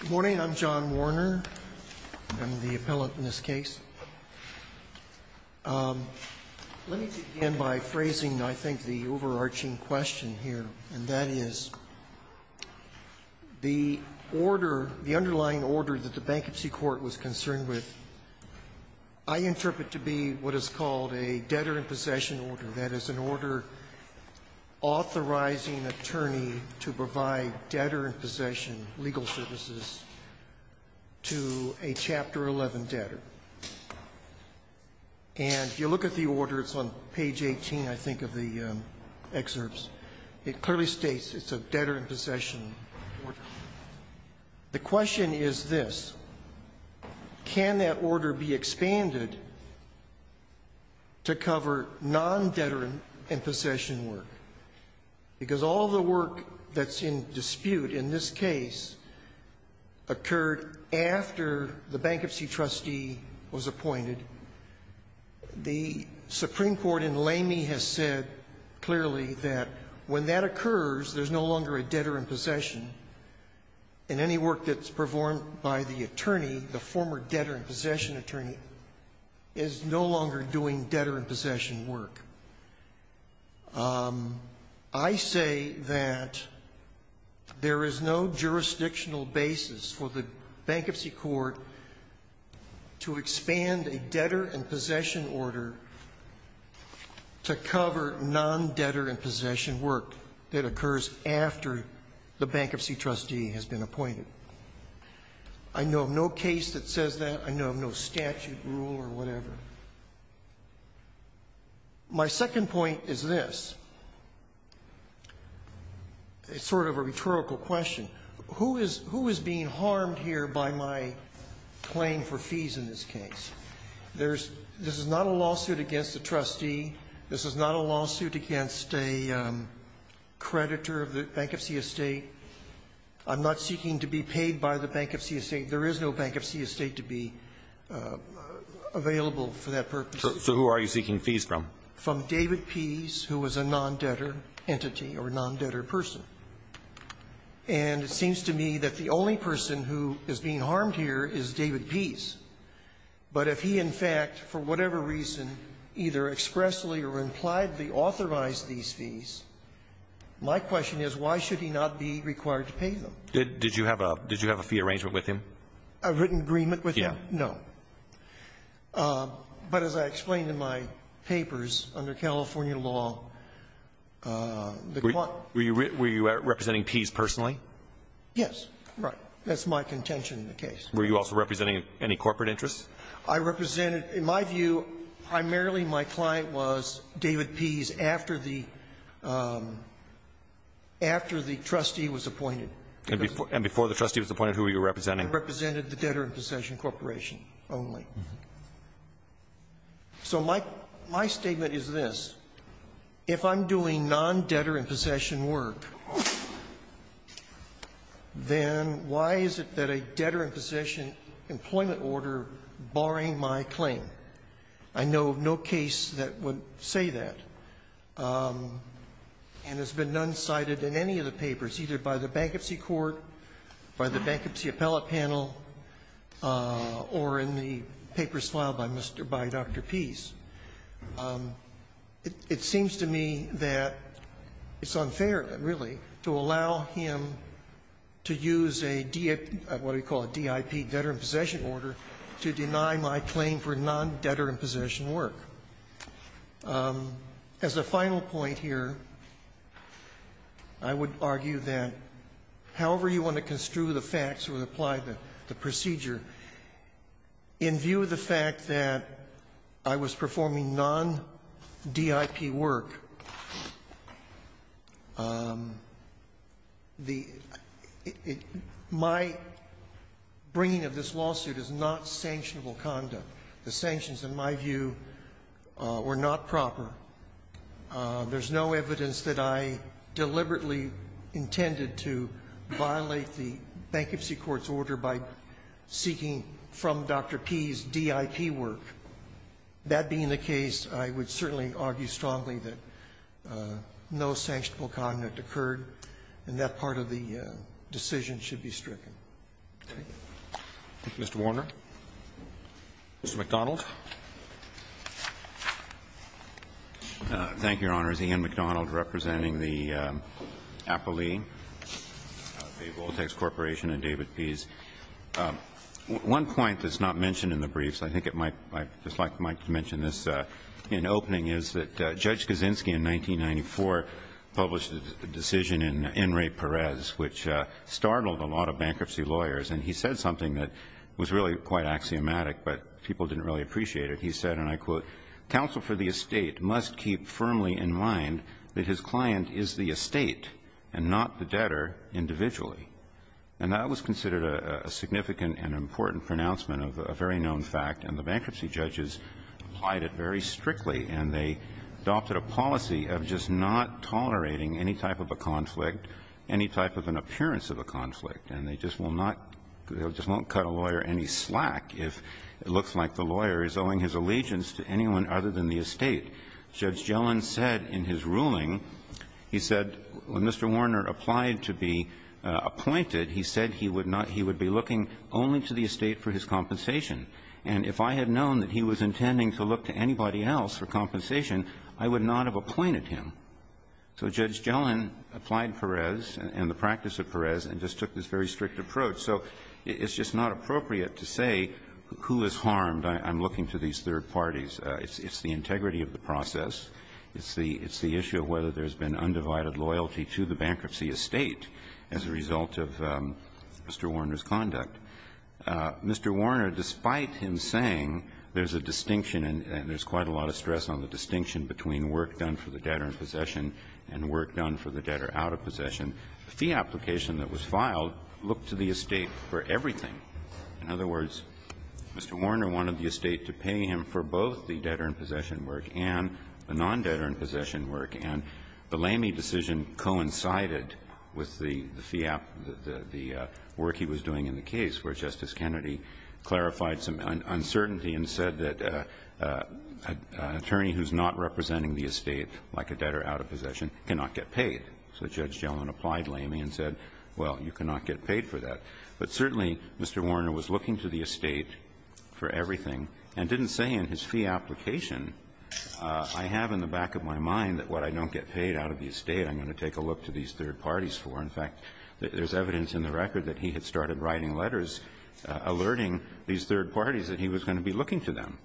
Good morning. I'm John Warner. I'm the appellate in this case. Let me begin by phrasing, I think, the overarching question here, and that is, the order, the underlying order that the Bankruptcy Court was concerned with, I interpret to be what is called a debtor-in-possession order. That is an order authorizing an attorney to provide debtor-in-possession legal services to a Chapter 11 debtor. And if you look at the order, it's on page 18, I think, of the excerpts, it clearly states it's a debtor-in-possession order. The question is this. Can that order be expanded to cover non-debtor-in-possession work? Because all the work that's in dispute in this case occurred after the bankruptcy trustee was appointed. The Supreme Court in Lamy has said clearly that when that occurs, there's no longer a debtor-in-possession. And any work that's performed by the attorney, the former debtor-in-possession attorney, is no longer doing debtor-in-possession work. I say that there is no jurisdictional basis for the Bankruptcy Court to expand a debtor-in-possession order to cover non-debtor-in-possession work that occurs after the bankruptcy trustee has been appointed. I know of no case that says that. I know of no statute, rule, or whatever. My second point is this. It's sort of a rhetorical question. Who is being harmed here by my claim for fees in this case? This is not a lawsuit against a trustee. This is not a lawsuit against a creditor of the Bankruptcy Estate. I'm not seeking to be paid by the Bankruptcy Estate. There is no Bankruptcy Estate to be available for that purpose. So who are you seeking fees from? From David Pease, who was a non-debtor entity or non-debtor person. And it seems to me that the only person who is being harmed here is David Pease. But if he, in fact, for whatever reason, either expressly or impliedly authorized these fees, my question is, why should he not be required to pay them? Did you have a fee arrangement with him? A written agreement with him? Yes. No. But as I explained in my papers under California law, the court ---- Were you representing Pease personally? Yes. Right. That's my contention in the case. Were you also representing any corporate interests? I represented, in my view, primarily my client was David Pease after the ---- after the trustee was appointed. And before the trustee was appointed, who were you representing? I represented the Debtor in Possession Corporation only. So my statement is this. If I'm doing non-debtor in possession work, then why is it that a debtor in possession employment order barring my claim? I know of no case that would say that. And it's been non-cited in any of the papers, either by the Bankruptcy Court, by the Bankruptcy Appellate Panel, or in the papers filed by Mr. ---- by Dr. Pease. It seems to me that it's unfair, really, to allow him to use a DIP ---- what do you call it, DIP, debtor in possession order, to deny my claim for non-debtor in possession work. As a final point here, I would argue that however you want to construe the facts or apply the procedure, in view of the fact that I was performing non-DIP work, the ---- my bringing of this lawsuit is not sanctionable conduct. The sanctions, in my view, were not proper. There's no evidence that I deliberately intended to violate the Bankruptcy Court's order by seeking from Dr. Pease DIP work. That being the case, I would certainly argue strongly that no sanctionable conduct occurred, and that part of the decision should be stricken. Thank you. Mr. Warner. Mr. McDonald. Thank you, Your Honors. Ian McDonald representing the Appellee, the Voltex Corporation and David Pease. One point that's not mentioned in the briefs, I think it might ---- I'd just like to mention this in opening, is that Judge Kaczynski, in 1994, published a decision in N. Ray Perez, which startled a lot of bankruptcy lawyers, and he said something that was really quite axiomatic, but people didn't really appreciate it. He said, and I quote, "...counsel for the estate must keep firmly in mind that his client is the estate and not the debtor individually." And that was considered a significant and important pronouncement of a very known fact, and the bankruptcy judges applied it very strictly, and they adopted a policy of just not tolerating any type of a conflict, any type of an appearance of a conflict, and they just will not ---- they just won't cut a lawyer any slack if it looks like the lawyer is owing his allegiance to anyone other than the estate. Judge Gellin said in his ruling, he said, when Mr. Warner applied to be appointed, he said he would not ---- he would be looking only to the estate for his compensation. And if I had known that he was intending to look to anybody else for compensation, I would not have appointed him. So Judge Gellin applied Perez and the practice of Perez and just took this very strict approach. So it's just not appropriate to say who is harmed. I'm looking to these third parties. It's the integrity of the process. It's the issue of whether there's been undivided loyalty to the bankruptcy estate as a result of Mr. Warner's conduct. Mr. Warner, despite him saying there's a distinction and there's quite a lot of stress on the distinction between work done for the debtor in possession and work done for the debtor out of possession, the fee application that was filed looked to the estate for everything. In other words, Mr. Warner wanted the estate to pay him for both the debtor in possession work and the non-debtor in possession work. And the Lamey decision coincided with the fee ---- the work he was doing in the case where Justice Kennedy clarified some uncertainty and said that an attorney who's not representing the estate, like a debtor out of possession, cannot get paid. So Judge Gellin applied Lamey and said, well, you cannot get paid for that. But certainly, Mr. Warner was looking to the estate for everything and didn't say in his fee application, I have in the back of my mind that what I don't get paid out of the estate I'm going to take a look to these third parties for. In fact, there's evidence in the record that he had started writing letters alerting these third parties that he was going to be looking to them.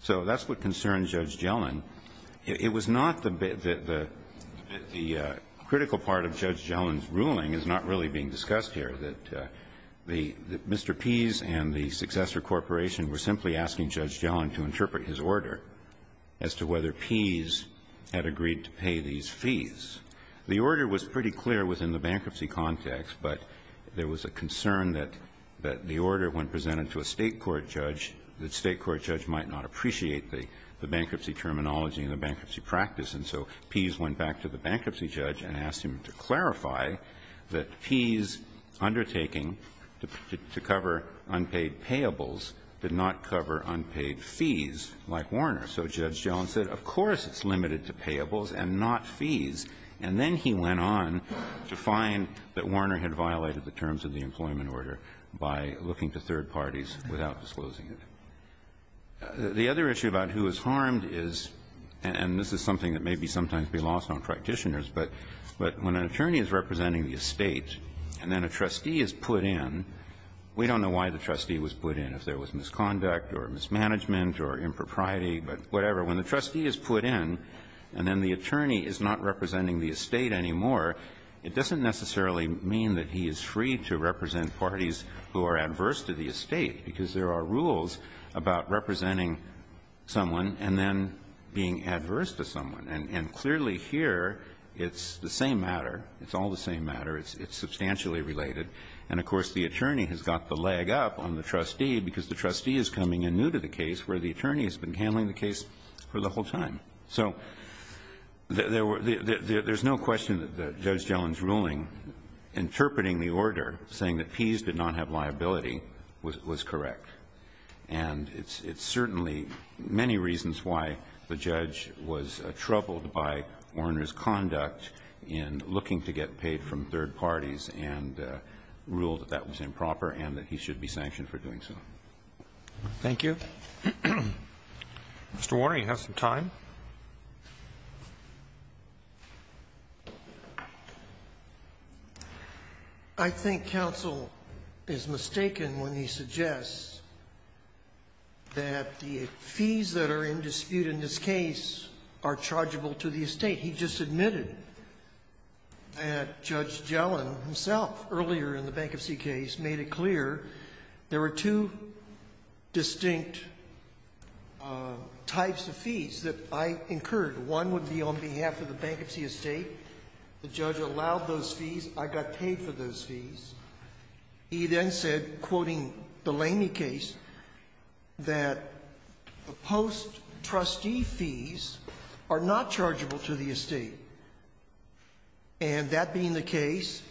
So that's what concerned Judge Gellin. It was not the critical part of Judge Gellin's ruling is not really being discussed here, that Mr. Pease and the successor corporation were simply asking Judge Gellin to interpret his order as to whether Pease had agreed to pay these fees. The order was pretty clear within the bankruptcy context, but there was a concern that the order, when presented to a State court judge, the State court judge might not appreciate the bankruptcy terminology and the bankruptcy practice. And so Pease went back to the bankruptcy judge and asked him to clarify that Pease undertaking to cover unpaid payables did not cover unpaid fees like Warner. So Judge Gellin said, of course it's limited to payables and not fees. And then he went on to find that Warner had violated the terms of the employment order by looking to third parties without disclosing it. The other issue about who is harmed is, and this is something that may be sometimes be lost on practitioners, but when an attorney is representing the estate and then a trustee is put in, we don't know why the trustee was put in, if there was misconduct or mismanagement or impropriety, but whatever. When the trustee is put in and then the attorney is not representing the estate anymore, it doesn't necessarily mean that he is free to represent parties who are adverse to the estate, because there are rules about representing someone and then being adverse to someone. And clearly here, it's the same matter. It's all the same matter. It's substantially related. And, of course, the attorney has got the leg up on the trustee because the trustee is coming in new to the case where the attorney has been handling the case for the whole time. So there's no question that Judge Gellin's ruling, interpreting the order, saying that fees did not have liability, was correct. And it's certainly many reasons why the judge was troubled by Warner's conduct in looking to get paid from third parties and ruled that that was improper and that he should be sanctioned for doing so. Roberts. Thank you. Mr. Warner, you have some time. I think counsel is mistaken when he suggests that the fees that are in dispute in this case are chargeable to the estate. He just admitted that Judge Gellin himself earlier in the bankruptcy case made it clear there were two distinct types of fees that I incurred. One would be on behalf of the bankruptcy estate. The judge allowed those fees. I got paid for those fees. He then said, quoting the Lamey case, that the post-trustee fees are not chargeable to the estate. And that being the case,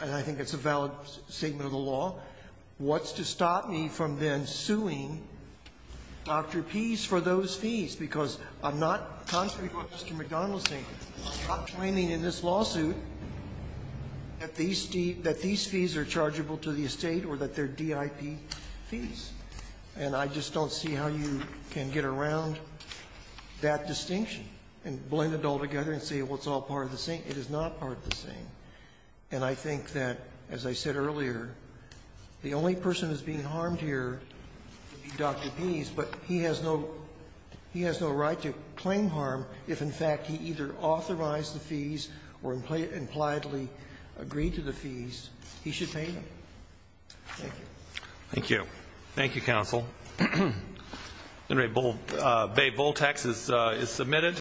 and I think it's a valid statement of the law, what's to stop me from then suing Dr. Pease for those fees? Because I'm not, contrary to what Mr. McDonald is saying, I'm not claiming in this lawsuit that these fees are chargeable to the estate or that they're DIP fees. And I just don't see how you can get around that distinction. And blend it all together and say, well, it's all part of the same. It is not part of the same. And I think that, as I said earlier, the only person that's being harmed here would be Dr. Pease, but he has no right to claim harm if, in fact, he either authorized the fees or impliedly agreed to the fees. He should pay them. Thank you. Roberts. Thank you. Thank you, counsel. All right. Bay Voltax is submitted.